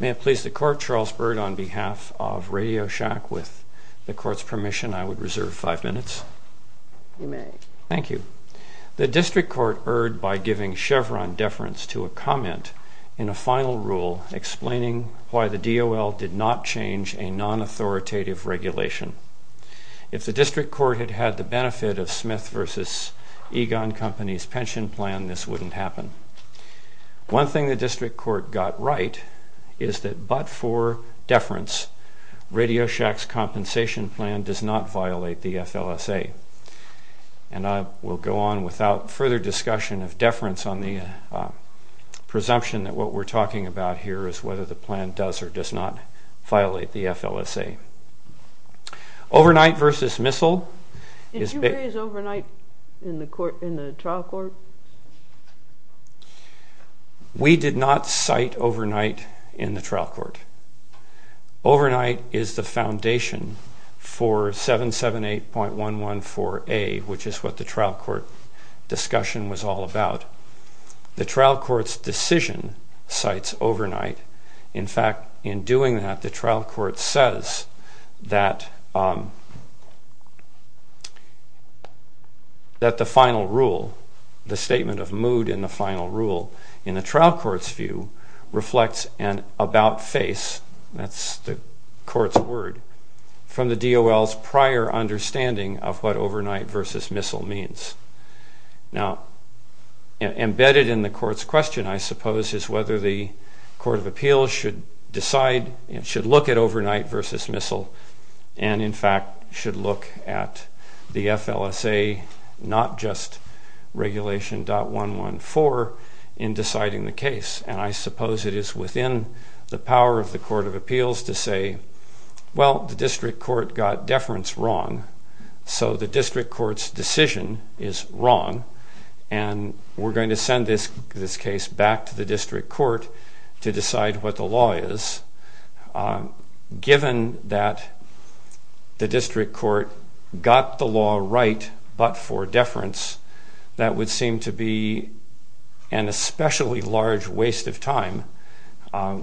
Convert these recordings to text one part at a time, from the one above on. May I please the Court, Charles Byrd, on behalf of Radioshack, with the Court's permission, I would reserve five minutes. You may. Thank you. The District Court erred by giving Chevron deference to a comment in a final rule explaining why the DOL did not change a non-authoritative regulation. If the District Court had had the benefit of Smith v. Egon Company's pension plan, this wouldn't happen. One thing the District Court got right is that but for deference, Radioshack's compensation plan does not violate the FLSA. And I will go on without further discussion of deference on the presumption that what we're talking about here is whether the plan does or does not violate the FLSA. Overnight v. Missile. Did you raise overnight in the trial court? Overnight is the foundation for 778.114A, which is what the trial court discussion was all about. The trial court's decision cites overnight. In fact, in doing that, the trial court says that that the final rule, the statement of mood in the final rule, in the trial court's reflects an about-face, that's the court's word, from the DOL's prior understanding of what overnight v. missile means. Now, embedded in the court's question, I suppose, is whether the Court of Appeals should decide and should look at overnight v. missile and, in fact, should look at the FLSA, not just regulation.114, in deciding the case. And I suppose it is within the power of the Court of Appeals to say, well, the district court got deference wrong, so the district court's decision is wrong, and we're going to send this case back to the district court to decide what the law is. Given that the district court got the law right but for deference, that would seem to be an especially large waste of time.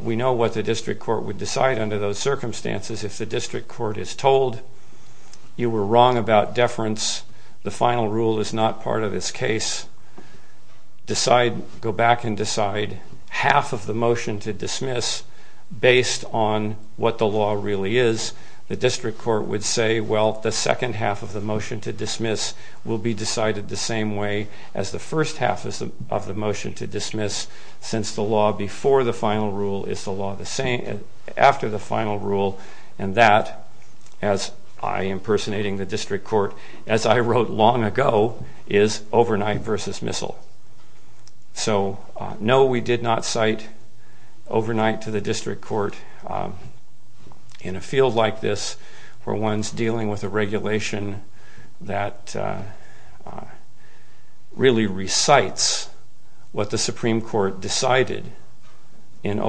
We know what the district court would decide under those circumstances. If the district court is told you were wrong about deference, the final rule is not part of this case, decide, go back and decide, half of the motion to dismiss based on what the law really is, the district court would say, well, the second half of the motion to dismiss will be decided the same way as the first half of the motion to dismiss, since the law before the final rule is the law after the final rule, and that, as I, impersonating the district court, as I wrote long ago, is overnight versus missile. So no, we did not cite overnight to the district court. In a field like this, where one's dealing with a regulation that really recites what the Supreme Court decided in So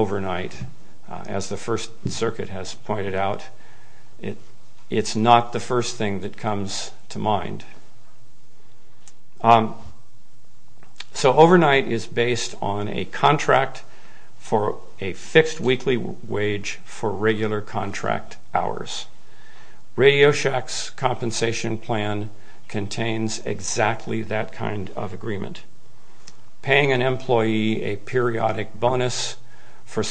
overnight is based on a contract for a fixed weekly wage for regular contract hours. RadioShack's compensation plan contains exactly that kind of agreement. Paying an employee a periodic bonus for the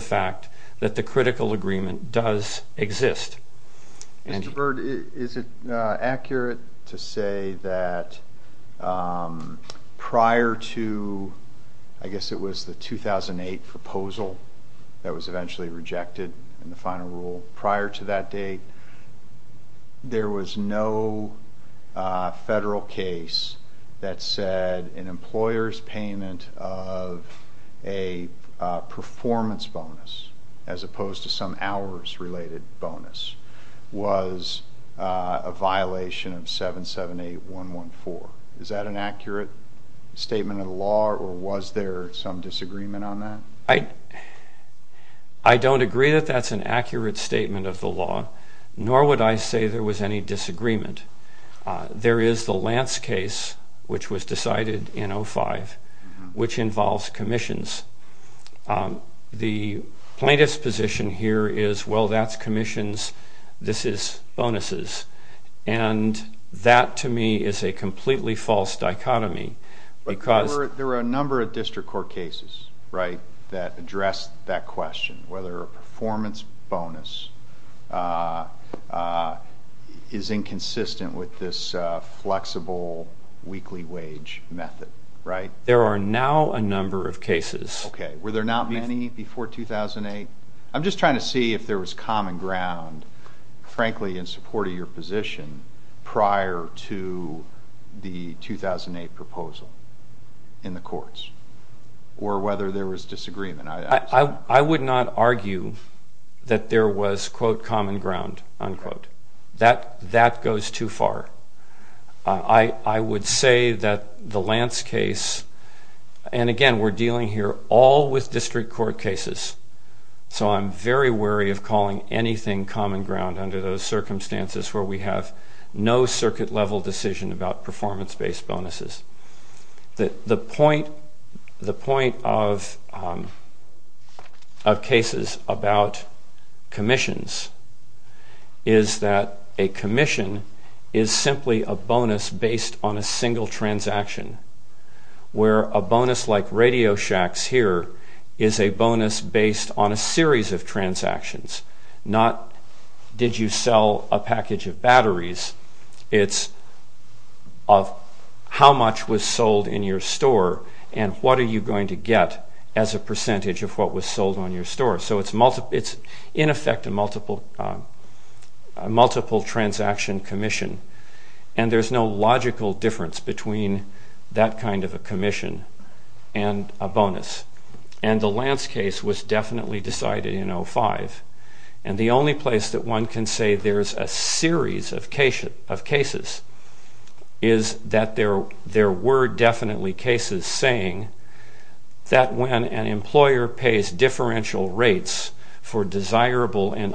fact that the critical agreement does exist. Mr. Bird, is it accurate to say that prior to, I guess it was the 2008 proposal that was eventually rejected in the final rule, prior to that date, there was no federal case that said an employer's payment of a performance bonus, as opposed to some hours-related bonus, was a violation of 778.114. Is that an accurate statement of the law, or was there some disagreement on that? I don't agree that that's an accurate statement of the law, nor would I say there was any disagreement. There is the plaintiff's position here is, well, that's commissions, this is bonuses. And that, to me, is a completely false dichotomy. But there were a number of district court cases, right, that addressed that question, whether a performance bonus is inconsistent with this flexible weekly wage method, right? Okay. Were there not many before 2008? I'm just trying to see if there was common ground, frankly, in support of your position prior to the 2008 proposal in the courts, or whether there was disagreement. I would not argue that there was, quote, common ground, unquote. That goes too far. I would say that the Lance case, and again, we're dealing here all with district court cases, so I'm very wary of calling anything common ground under those circumstances where we have no circuit-level decision about performance-based bonuses. The point of cases about commissions is that a commission is simply a bonus based on a single transaction, where a bonus like Radio Shack's here is a bonus based on a series of transactions, not did you sell a package of batteries, it's of how much was sold in your store and what are you going to get as a percentage of what was sold on your store. So it's, in effect, a multiple transaction commission, and there's no logical difference between that kind of a commission and a bonus. And the Lance case was definitely decided in 2005, and the only place that one can say there's a series of cases is that there were definitely cases saying that when an employer pays differential rates for desirable and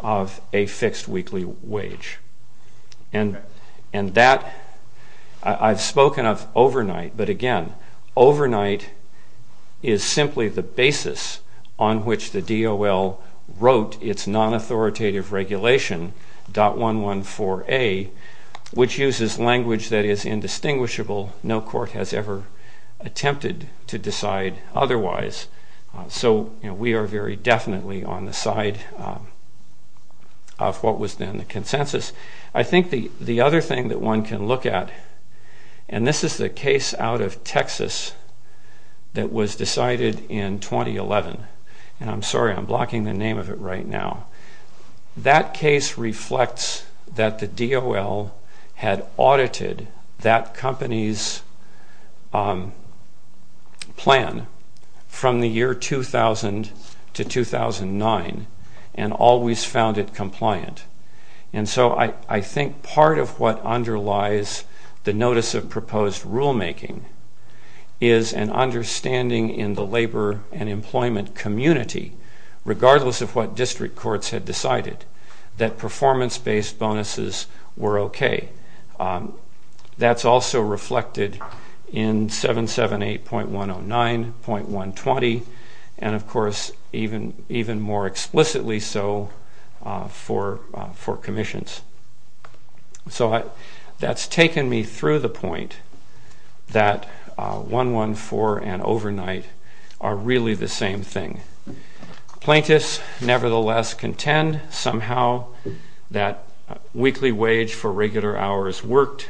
of a fixed weekly wage. And that, I've spoken of overnight, but again, overnight is simply the basis on which the DOL wrote its non-authoritative regulation, .114A, which uses language that is indistinguishable. No court has ever attempted to decide otherwise. So we are very definitely on the side of what was then the consensus. I think the other thing that one can look at, and this is the case out of Texas that was decided in 2011, and I'm sorry, I'm found it compliant. And so I think part of what underlies the notice of proposed rulemaking is an understanding in the labor and employment community, regardless of what district courts had decided, that performance-based bonuses were okay. That's also reflected in 778.109, .120, and, of course, even more explicitly so for commissions. So that's taken me through the point that .114 and overnight are really the same thing. Plaintiffs nevertheless contend somehow that weekly wage for contract hours worked.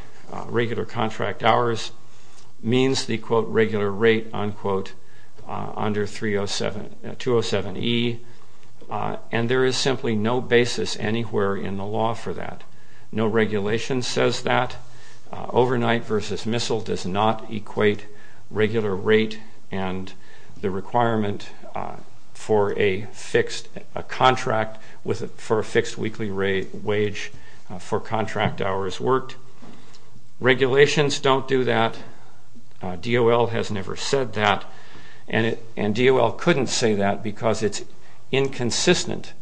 Regulations don't do that. DOL has never said that. And DOL couldn't say that because it's inconsistent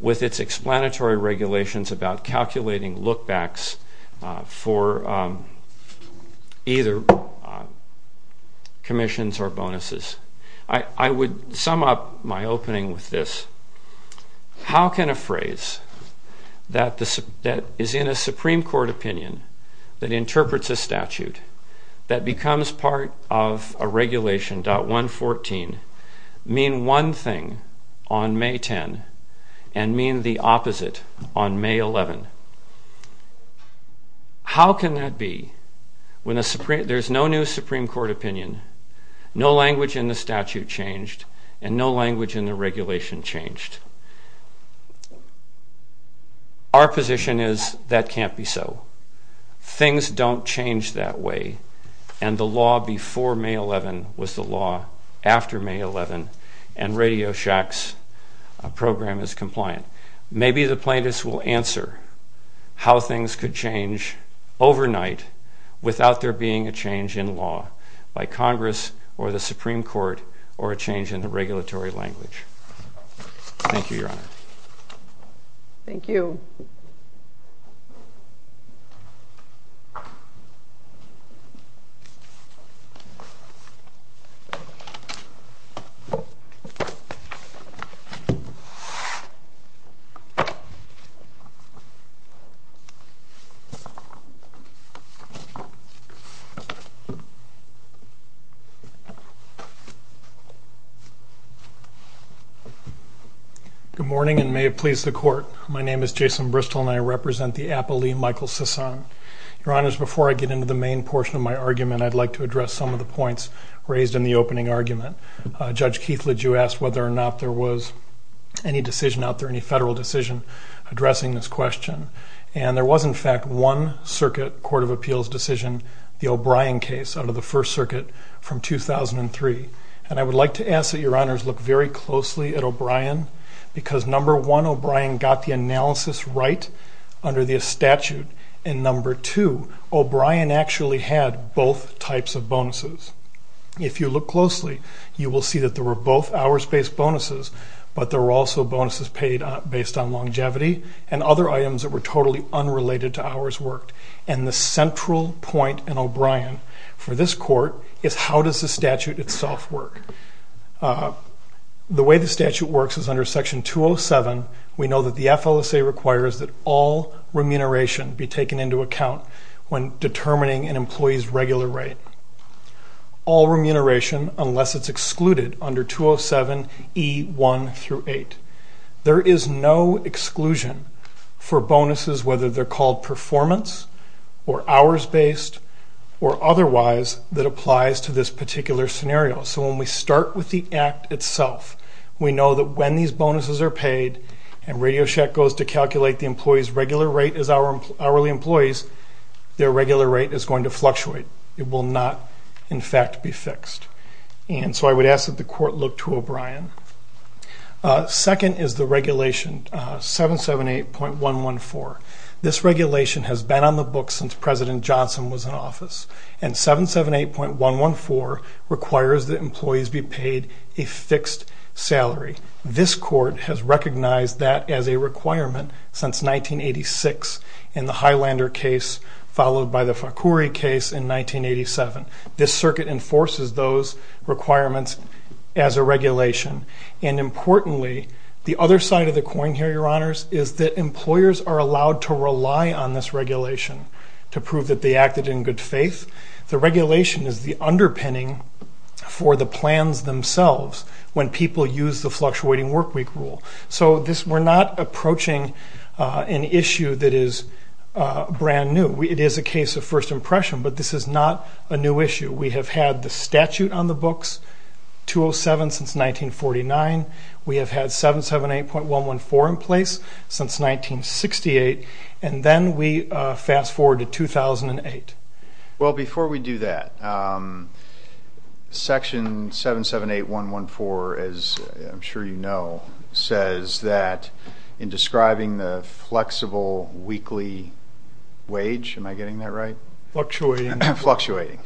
with its explanatory regulations about calculating look-backs for either commissions or bonuses. I would sum up my opening with this. How can a phrase that is in a Supreme Court opinion that changed and no language in the regulation changed? Our position is that can't be so. Things don't change that way, and the law before May 11 was the law after May 11, and Radio Shack's program is the law after May 11. So I think it's important that we consider how things could change overnight without there being a change in law by Congress or the Supreme Court or a change in the regulatory language. Thank you, Your Honor. Thank you. Good morning, and may it please the Court, my name is Jason Bristol and I represent the Apple Lee Michael Sison. Your Honors, before I get into the main portion of my argument, I'd like to address some of the points raised in the opening argument. Judge Keithledge, you asked whether or not there was any decision out there, any federal decision, addressing this question, and there was in fact one circuit Court of Appeals decision, the O'Brien case, out of the First Circuit from 2003. And I would like to ask that Your Honors look very closely at O'Brien because number one, O'Brien got the analysis right. Under the statute, and number two, O'Brien actually had both types of bonuses. If you look closely, you will see that there were both hours-based bonuses, but there were also bonuses paid based on longevity and other items that were totally unrelated to hours worked. And the central point in O'Brien for this Court is how does the statute itself work. The way the statute works is under Section 207, we know that the FLSA requires that all remuneration be taken into account when determining an employee's regular rate. All remuneration unless it's excluded under 207E1-8. There is no exclusion for bonuses whether they're called performance or hours-based or otherwise that applies to this particular scenario. We start with the act itself. We know that when these bonuses are paid and RadioShack goes to calculate the employee's regular rate as hourly employees, their regular rate is going to fluctuate. It will not in fact be fixed. And so I would ask that the Court look to O'Brien. Second is the regulation 778.114. This regulation has been on the books since President Johnson was in office. And 778.114 requires that employees be paid a fixed salary. This Court has recognized that as a requirement since 1986 in the Highlander case followed by the Fakure case in 1987. This circuit enforces those requirements as a regulation. And importantly, the other side of the coin here, Your Honors, is that employers are allowed to rely on this regulation to prove that they acted in good faith. The regulation is the underpinning for the plans themselves when people use the fluctuating workweek rule. So we're not approaching an issue that is brand new. It is a case of first impression, but this is not a new issue. We have had the statute on the books, 207, since 1949. We have had 778.114 in place since 1968. And then we fast forward to 2008. Well, before we do that, Section 778.114, as I'm sure you know, says that in describing the flexible weekly wage, am I getting that right? Fluctuating. Fluctuating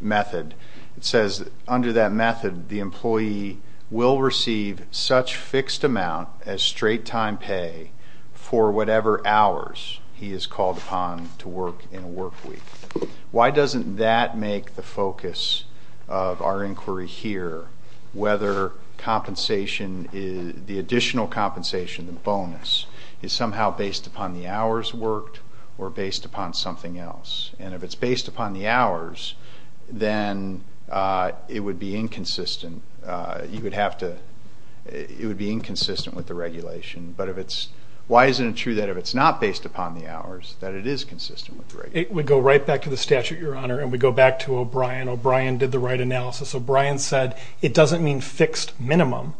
method. It says under that method, the employee will receive such fixed amount as straight time pay for whatever hours he is called upon to work in a workweek. Why doesn't that make the focus of our inquiry here whether the additional compensation, the bonus, is somehow based upon the hours worked or based upon something else? And if it's based upon the hours, then it would be inconsistent. It would be inconsistent with the regulation. Why isn't it true that if it's not based upon the hours, that it is consistent with the regulation? We go right back to the statute, Your Honor, and we go back to O'Brien. O'Brien did the right analysis. O'Brien said it doesn't mean fixed minimum.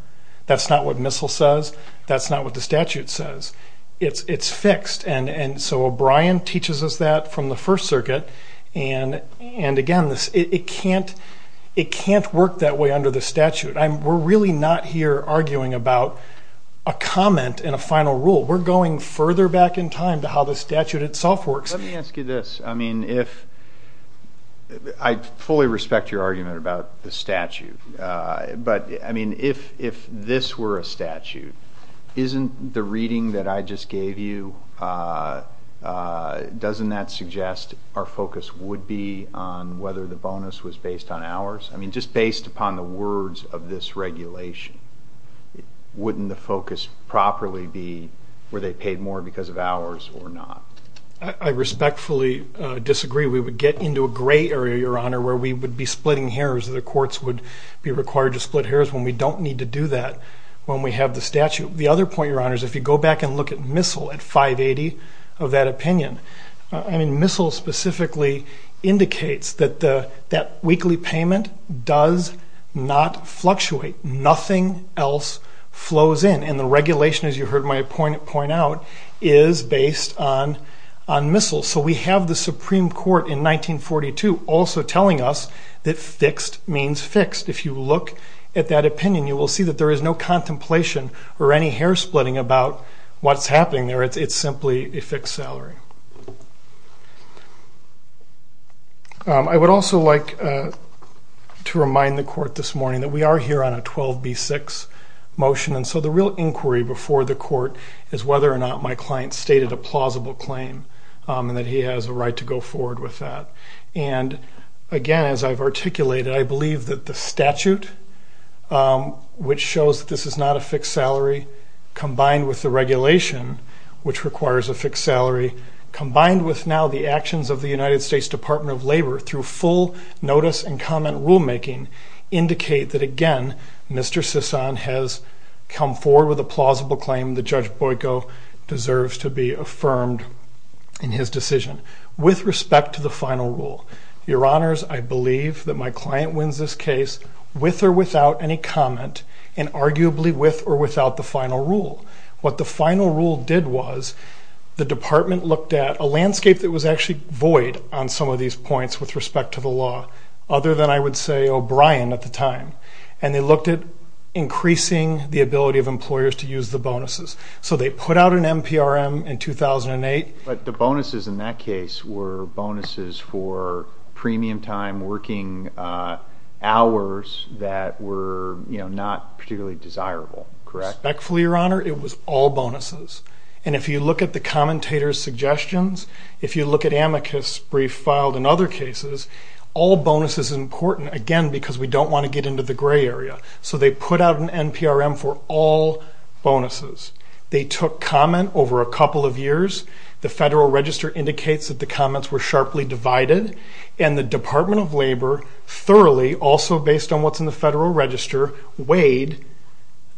That's not what MISL says. That's not what the statute says. It's fixed. And so O'Brien teaches us that from the First Circuit. And again, it can't work that way under the statute. We're really not here arguing about a comment and a final rule. We're going further back in time to how the statute itself works. Let me ask you this. I fully respect your argument about the statute, but if this were a statute, isn't the reading that I just gave you, doesn't that suggest our focus would be on whether the bonus was based on hours? Just based upon the words of this regulation, wouldn't the focus properly be were they paid more because of hours or not? I respectfully disagree. We would get into a gray area, Your Honor, where we would be splitting hairs. The courts would be required to split hairs when we don't need to do that when we have the statute. The other point, Your Honor, is if you go back and look at MISL at 580 of that opinion, I mean MISL specifically indicates that that weekly payment does not fluctuate. Nothing else flows in. And the regulation, as you heard my appointee point out, is based on MISL. So we have the Supreme Court in 1942 also telling us that fixed means fixed. If you look at that opinion, you will see that there is no contemplation or any hair splitting about what's happening there. It's simply a fixed salary. I would also like to remind the court this morning that we are here on a 12B6 motion, and so the real inquiry before the court is whether or not my client stated a plausible claim and that he has a right to go forward with that. And again, as I've articulated, I believe that the statute, which shows that this is not a fixed salary, combined with the regulation, which requires a fixed salary, combined with now the actions of the United States Department of Labor through full notice and comment rulemaking, indicate that, again, Mr. Sison has come forward with a plausible claim that Judge Boiko deserves to be affirmed in his decision. With respect to the final rule, your honors, I believe that my client wins this case with or without any comment and arguably with or without the final rule. What the final rule did was the department looked at a landscape that was actually void on some of these points with respect to the law, other than I would say O'Brien at the time, and they looked at increasing the ability of employers to use the bonuses. So they put out an NPRM in 2008. But the bonuses in that case were bonuses for premium time working hours that were not particularly desirable, correct? Respectfully, your honor, it was all bonuses. And if you look at the commentator's suggestions, if you look at amicus brief filed in other cases, all bonuses are important, again, because we don't want to get into the gray area. So they put out an NPRM for all bonuses. They took comment over a couple of years. The Federal Register indicates that the comments were sharply divided. And the Department of Labor thoroughly, also based on what's in the Federal Register, weighed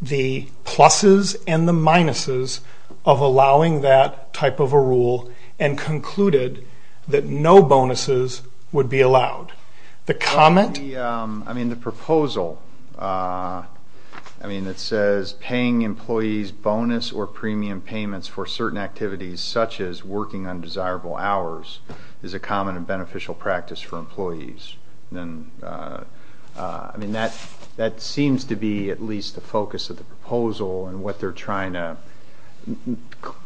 the pluses and the minuses of allowing that type of a rule and concluded that no bonuses would be allowed. I mean, the proposal, it says paying employees bonus or premium payments for certain activities such as working undesirable hours is a common and beneficial practice for employees. That seems to be at least the focus of the proposal and what they're trying to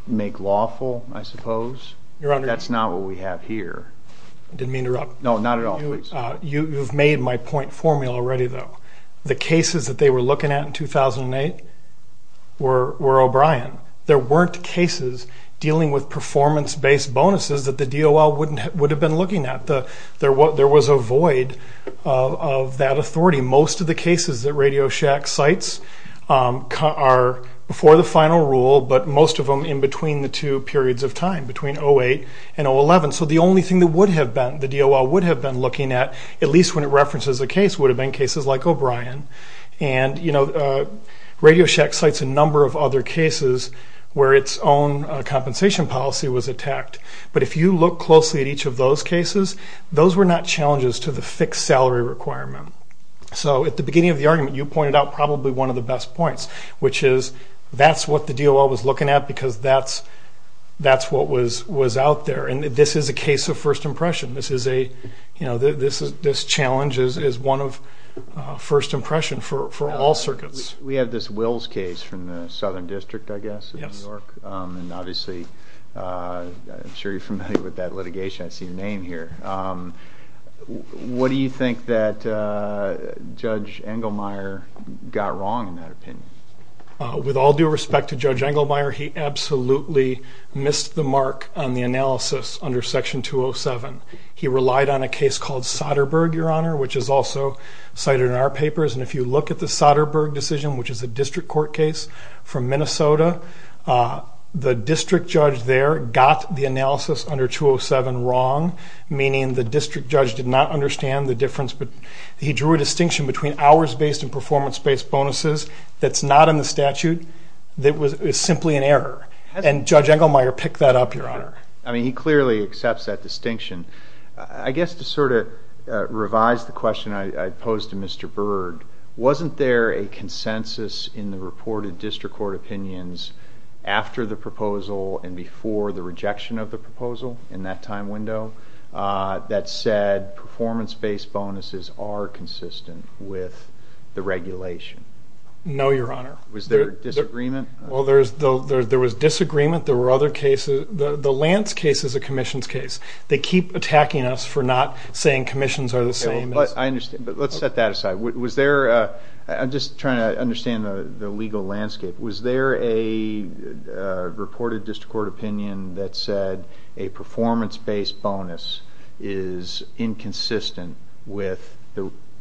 make lawful, I suppose. That's not what we have here. I didn't mean to interrupt. No, not at all. You've made my point for me already, though. The cases that they were looking at in 2008 were O'Brien. There weren't cases dealing with performance-based bonuses that the DOL would have been looking at. There was a void of that authority. Most of the cases that Radio Shack cites are before the final rule, but most of them in between the two periods of time, between 2008 and 2011. So the only thing that the DOL would have been looking at, at least when it references a case, would have been cases like O'Brien. And Radio Shack cites a number of other cases where its own compensation policy was attacked. But if you look closely at each of those cases, those were not challenges to the fixed salary requirement. So at the beginning of the argument, you pointed out probably one of the best points, which is that's what the DOL was looking at because that's what was out there. And this is a case of first impression. This challenge is one of first impression for all circuits. We have this Wills case from the Southern District, I guess, of New York. And obviously, I'm sure you're familiar with that litigation. I see your name here. What do you think that Judge Engelmeyer got wrong in that opinion? With all due respect to Judge Engelmeyer, he absolutely missed the mark on the analysis under Section 207. He relied on a case called Soderberg, Your Honor, which is also cited in our papers. And if you look at the Soderberg decision, which is a district court case from Minnesota, the district judge there got the analysis under 207 wrong, meaning the district judge did not understand the difference. He drew a distinction between hours-based and performance-based bonuses that's not in the statute that was simply an error. And Judge Engelmeyer picked that up, Your Honor. I mean, he clearly accepts that distinction. I guess to sort of revise the question I posed to Mr. Berg, wasn't there a consensus in the reported district court opinions after the proposal and before the rejection of the proposal in that time window that said performance-based bonuses are consistent with the regulation? No, Your Honor. Was there disagreement? Well, there was disagreement. There were other cases. The Lance case is a commission's case. They keep attacking us for not saying commissions are the same. But let's set that aside. I'm just trying to understand the legal landscape. Was there a reported district court opinion that said a performance-based bonus is inconsistent with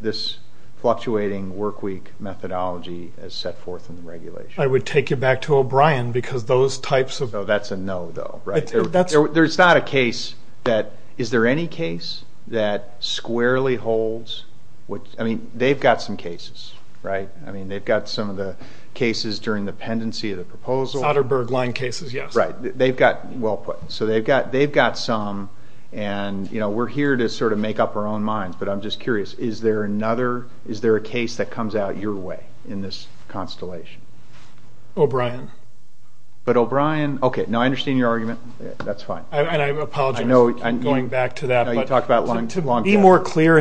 this fluctuating workweek methodology as set forth in the regulation? I would take you back to O'Brien because those types of... No, that's a no, though, right? That's... There's not a case that... Is there any case that squarely holds what... I mean, they've got some cases, right? I mean, they've got some of the cases during the pendency of the proposal. Soderberg line cases, yes. Right. They've got... Well put. So they've got some, and, you know, we're here to sort of make up our own minds, but I'm just curious. Is there another... Is there a case that comes out your way in this constellation? O'Brien. But O'Brien... Okay. No, I understand your argument. That's fine. And I apologize for going back to that, but... I know you talked about long-term... ...the regulation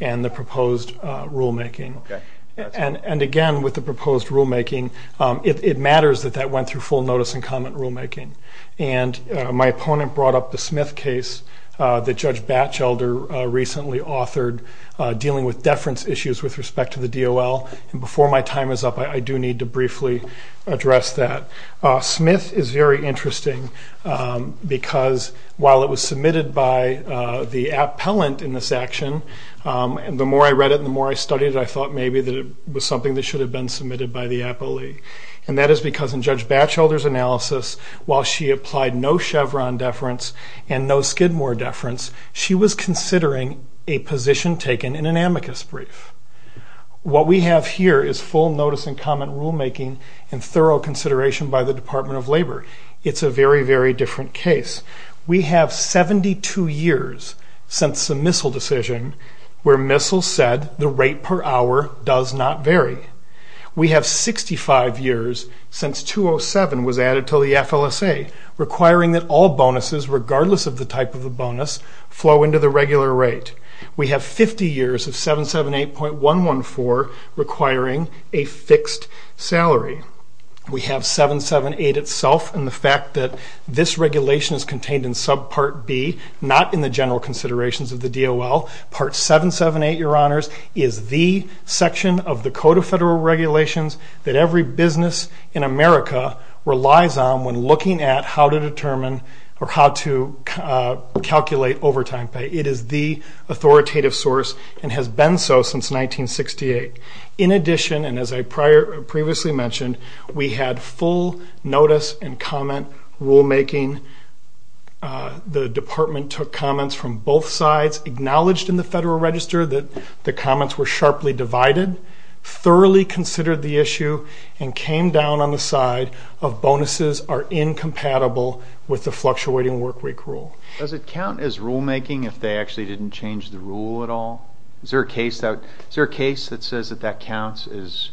and the proposed rulemaking. Okay. And again, with the proposed rulemaking, it matters that that went through full notice and comment rulemaking. And my opponent brought up the Smith case that Judge Batchelder recently authored dealing with deference issues with respect to the DOL. And before my time is up, I do need to briefly address that. Smith is very interesting because while it was submitted by the appellant in this action, the more I read it and the more I studied it, I thought maybe that it was something that should have been submitted by the appellee. And that is because in Judge Batchelder's analysis, while she applied no Chevron deference and no Skidmore deference, she was considering a position taken in an amicus brief. What we have here is full notice and comment rulemaking and thorough consideration by the Department of Labor. It's a very, very different case. We have 72 years since the Missle decision where Missle said the rate per hour does not vary. We have 65 years since 207 was added to the FLSA, requiring that all bonuses, regardless of the type of the bonus, flow into the regular rate. We have 50 years of 778.114 requiring a fixed salary. We have 778 itself and the fact that this regulation is contained in subpart B, not in the general considerations of the DOL. Part 778, Your Honors, is the section of the Code of Federal Regulations that every business in America relies on when looking at how to determine or how to calculate overtime pay. It is the authoritative source and has been so since 1968. In addition, and as I previously mentioned, we had full notice and comment rulemaking. The department took comments from both sides, acknowledged in the Federal Register that the comments were sharply divided, thoroughly considered the issue, and came down on the side of bonuses are incompatible with the fluctuating workweek rule. Does it count as rulemaking if they actually didn't change the rule at all? Is there a case that says that that counts as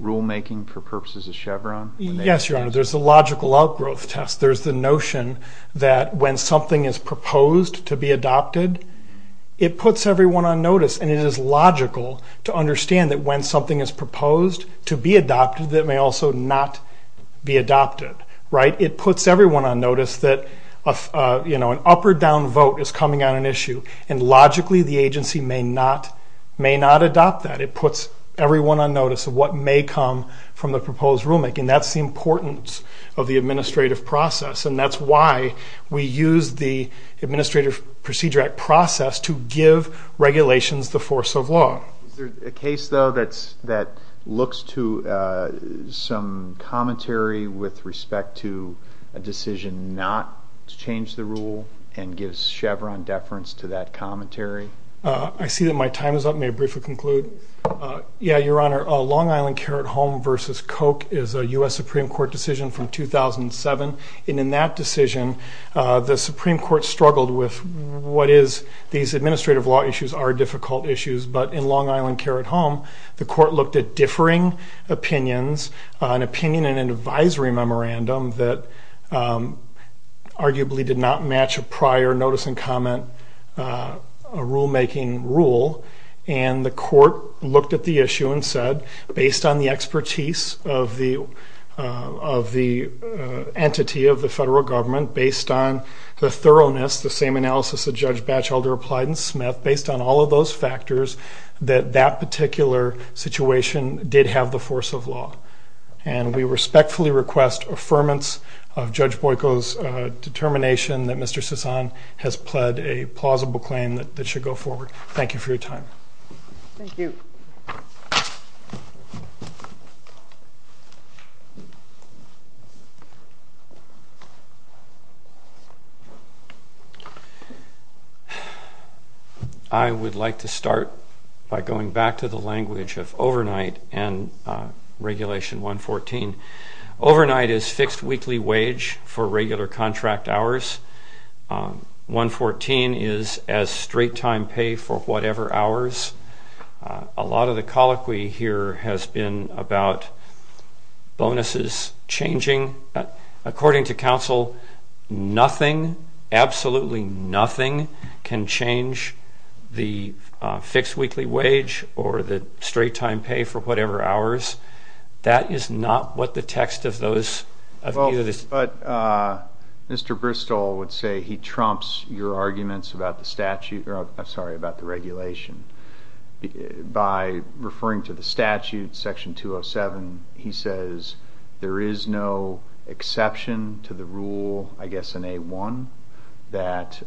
rulemaking for purposes of Chevron? Yes, Your Honor, there's a logical outgrowth test. There's the notion that when something is proposed to be adopted, it puts everyone on notice, and it is logical to understand that when something is proposed to be adopted, that it may also not be adopted, right? It puts everyone on notice that an up or down vote is coming on an issue, and logically the agency may not adopt that. It puts everyone on notice of what may come from the proposed rulemaking. That's the importance of the administrative process, and that's why we use the Administrative Procedure Act process to give regulations the force of law. Is there a case, though, that looks to some commentary with respect to a decision not to change the rule and gives Chevron deference to that commentary? I see that my time is up. May I briefly conclude? Yeah, Your Honor, Long Island Care at Home v. Koch is a U.S. Supreme Court decision from 2007, and in that decision, the Supreme Court struggled with what is these administrative law issues are difficult issues, but in Long Island Care at Home, the court looked at differing opinions, an opinion in an advisory memorandum that arguably did not match a prior notice and comment rulemaking rule, and the court looked at the issue and said, based on the expertise of the entity of the federal government, based on the thoroughness, the same analysis that Judge Batchelder applied in Smith, based on all of those factors, that that particular situation did have the force of law. And we respectfully request affirmance of Judge Boyko's determination that Mr. Sison has pled a plausible claim that should go forward. Thank you for your time. Thank you. I would like to start by going back to the language of overnight and Regulation 114. Overnight is fixed weekly wage for regular contract hours. 114 is as straight-time pay for whatever hours. A lot of the colloquy here has been about bonuses changing. According to counsel, nothing, absolutely nothing can change the fixed weekly wage or the straight-time pay for whatever hours. That is not what the text of those views is. But Mr. Bristol would say he trumps your arguments about the statute, or I'm sorry, about the regulation. By referring to the statute, Section 207, he says there is no exception to the rule, I guess in A-1, that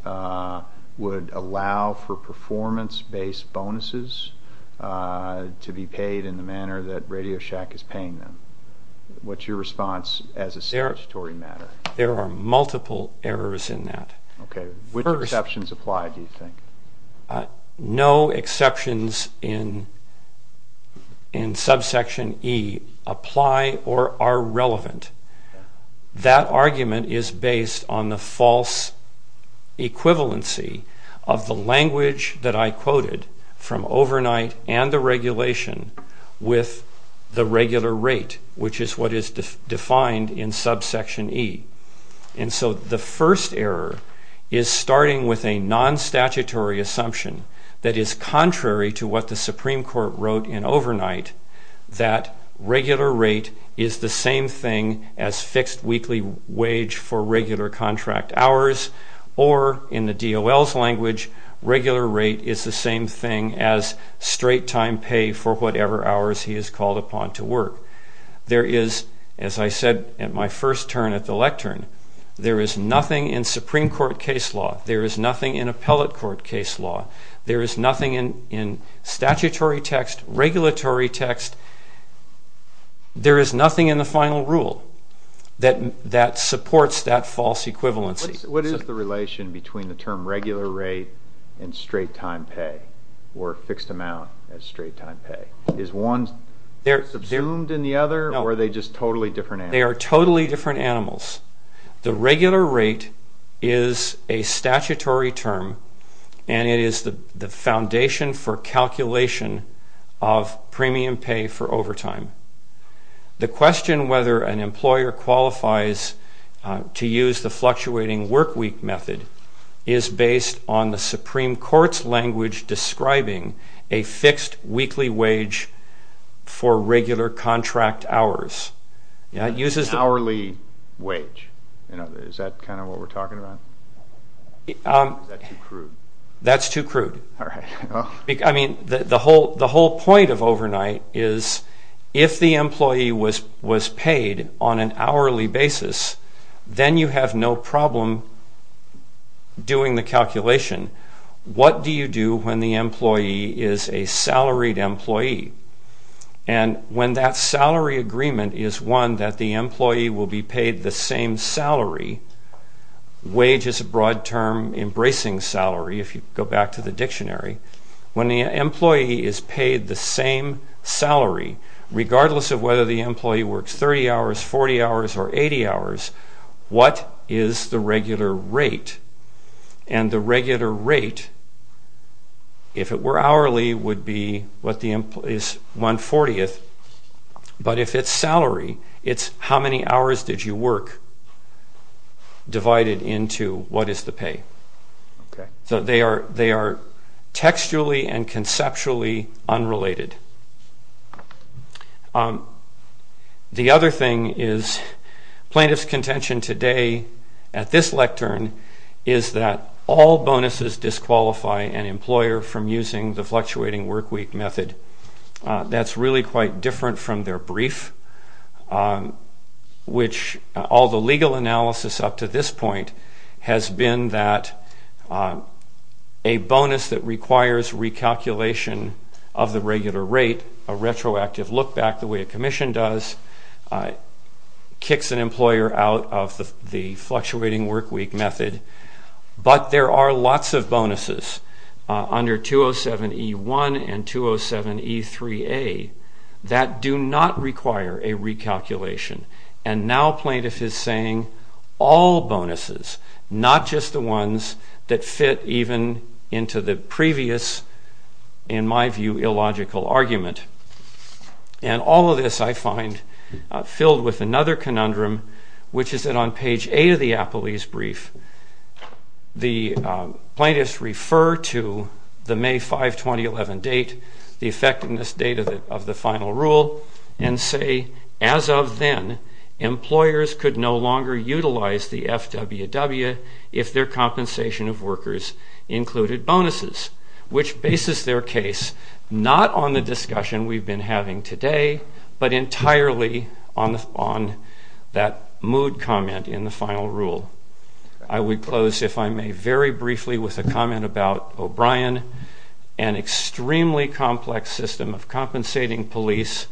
would allow for performance-based bonuses to be paid in the manner that Radio Shack is paying them. What's your response as a statutory matter? There are multiple errors in that. Okay. Which exceptions apply, do you think? No exceptions in subsection E apply or are relevant. That argument is based on the false equivalency of the language that I quoted from overnight and the regulation with the regular rate, which is what is defined in subsection E. And so the first error is starting with a non-statutory assumption that is contrary to what the Supreme Court wrote in overnight, that regular rate is the same thing as fixed weekly wage for regular contract hours, or in the DOL's language, regular rate is the same thing as straight-time pay for whatever hours he is called upon to work. There is, as I said at my first turn at the lectern, there is nothing in Supreme Court case law, there is nothing in appellate court case law, there is nothing in statutory text, regulatory text, there is nothing in the final rule that supports that false equivalency. What is the relation between the term regular rate and straight-time pay or fixed amount as straight-time pay? Is one subsumed in the other or are they just totally different animals? They are totally different animals. The regular rate is a statutory term and it is the foundation for calculation of premium pay for overtime. The question whether an employer qualifies to use the fluctuating workweek method is based on the Supreme Court's language describing a fixed weekly wage for regular contract hours. An hourly wage, is that kind of what we are talking about? Is that too crude? That's too crude. The whole point of overnight is if the employee was paid on an hourly basis, then you have no problem doing the calculation. What do you do when the employee is a salaried employee? When that salary agreement is one that the employee will be paid the same salary, wage is a broad term embracing salary, if you go back to the dictionary, when the employee is paid the same salary, regardless of whether the employee works 30 hours, 40 hours, or 80 hours, what is the regular rate? And the regular rate, if it were hourly, would be 140th. But if it's salary, it's how many hours did you work, divided into what is the pay. So they are textually and conceptually unrelated. The other thing is plaintiff's contention today at this lectern is that all bonuses disqualify an employer from using the fluctuating workweek method. That's really quite different from their brief, which all the legal analysis up to this point has been that a bonus that requires recalculation of the regular rate, a retroactive look back the way a commission does, kicks an employer out of the fluctuating workweek method. But there are lots of bonuses under 207E1 and 207E3A that do not require a recalculation. And now plaintiff is saying all bonuses, not just the ones that fit even into the previous, in my view, illogical argument. And all of this, I find, filled with another conundrum, which is that on page 8 of the Apolese brief, the plaintiffs refer to the May 5, 2011 date, the effectiveness date of the final rule, and say, as of then, employers could no longer utilize the FWW if their compensation of workers included bonuses, which bases their case not on the discussion we've been having today, but entirely on that mood comment in the final rule. I would close, if I may, very briefly with a comment about O'Brien, an extremely complex system of compensating police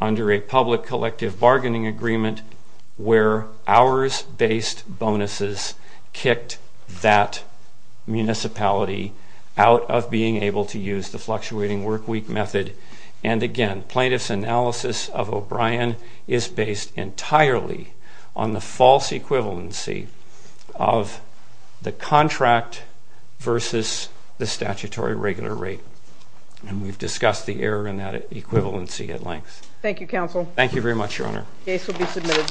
under a public collective bargaining agreement where hours-based bonuses kicked that municipality out of being able to use the fluctuating workweek method. And again, plaintiff's analysis of O'Brien is based entirely on the false equivalency of the contract versus the statutory regular rate. And we've discussed the error in that equivalency at length. Thank you, Counsel. Thank you very much, Your Honor. Case will be submitted.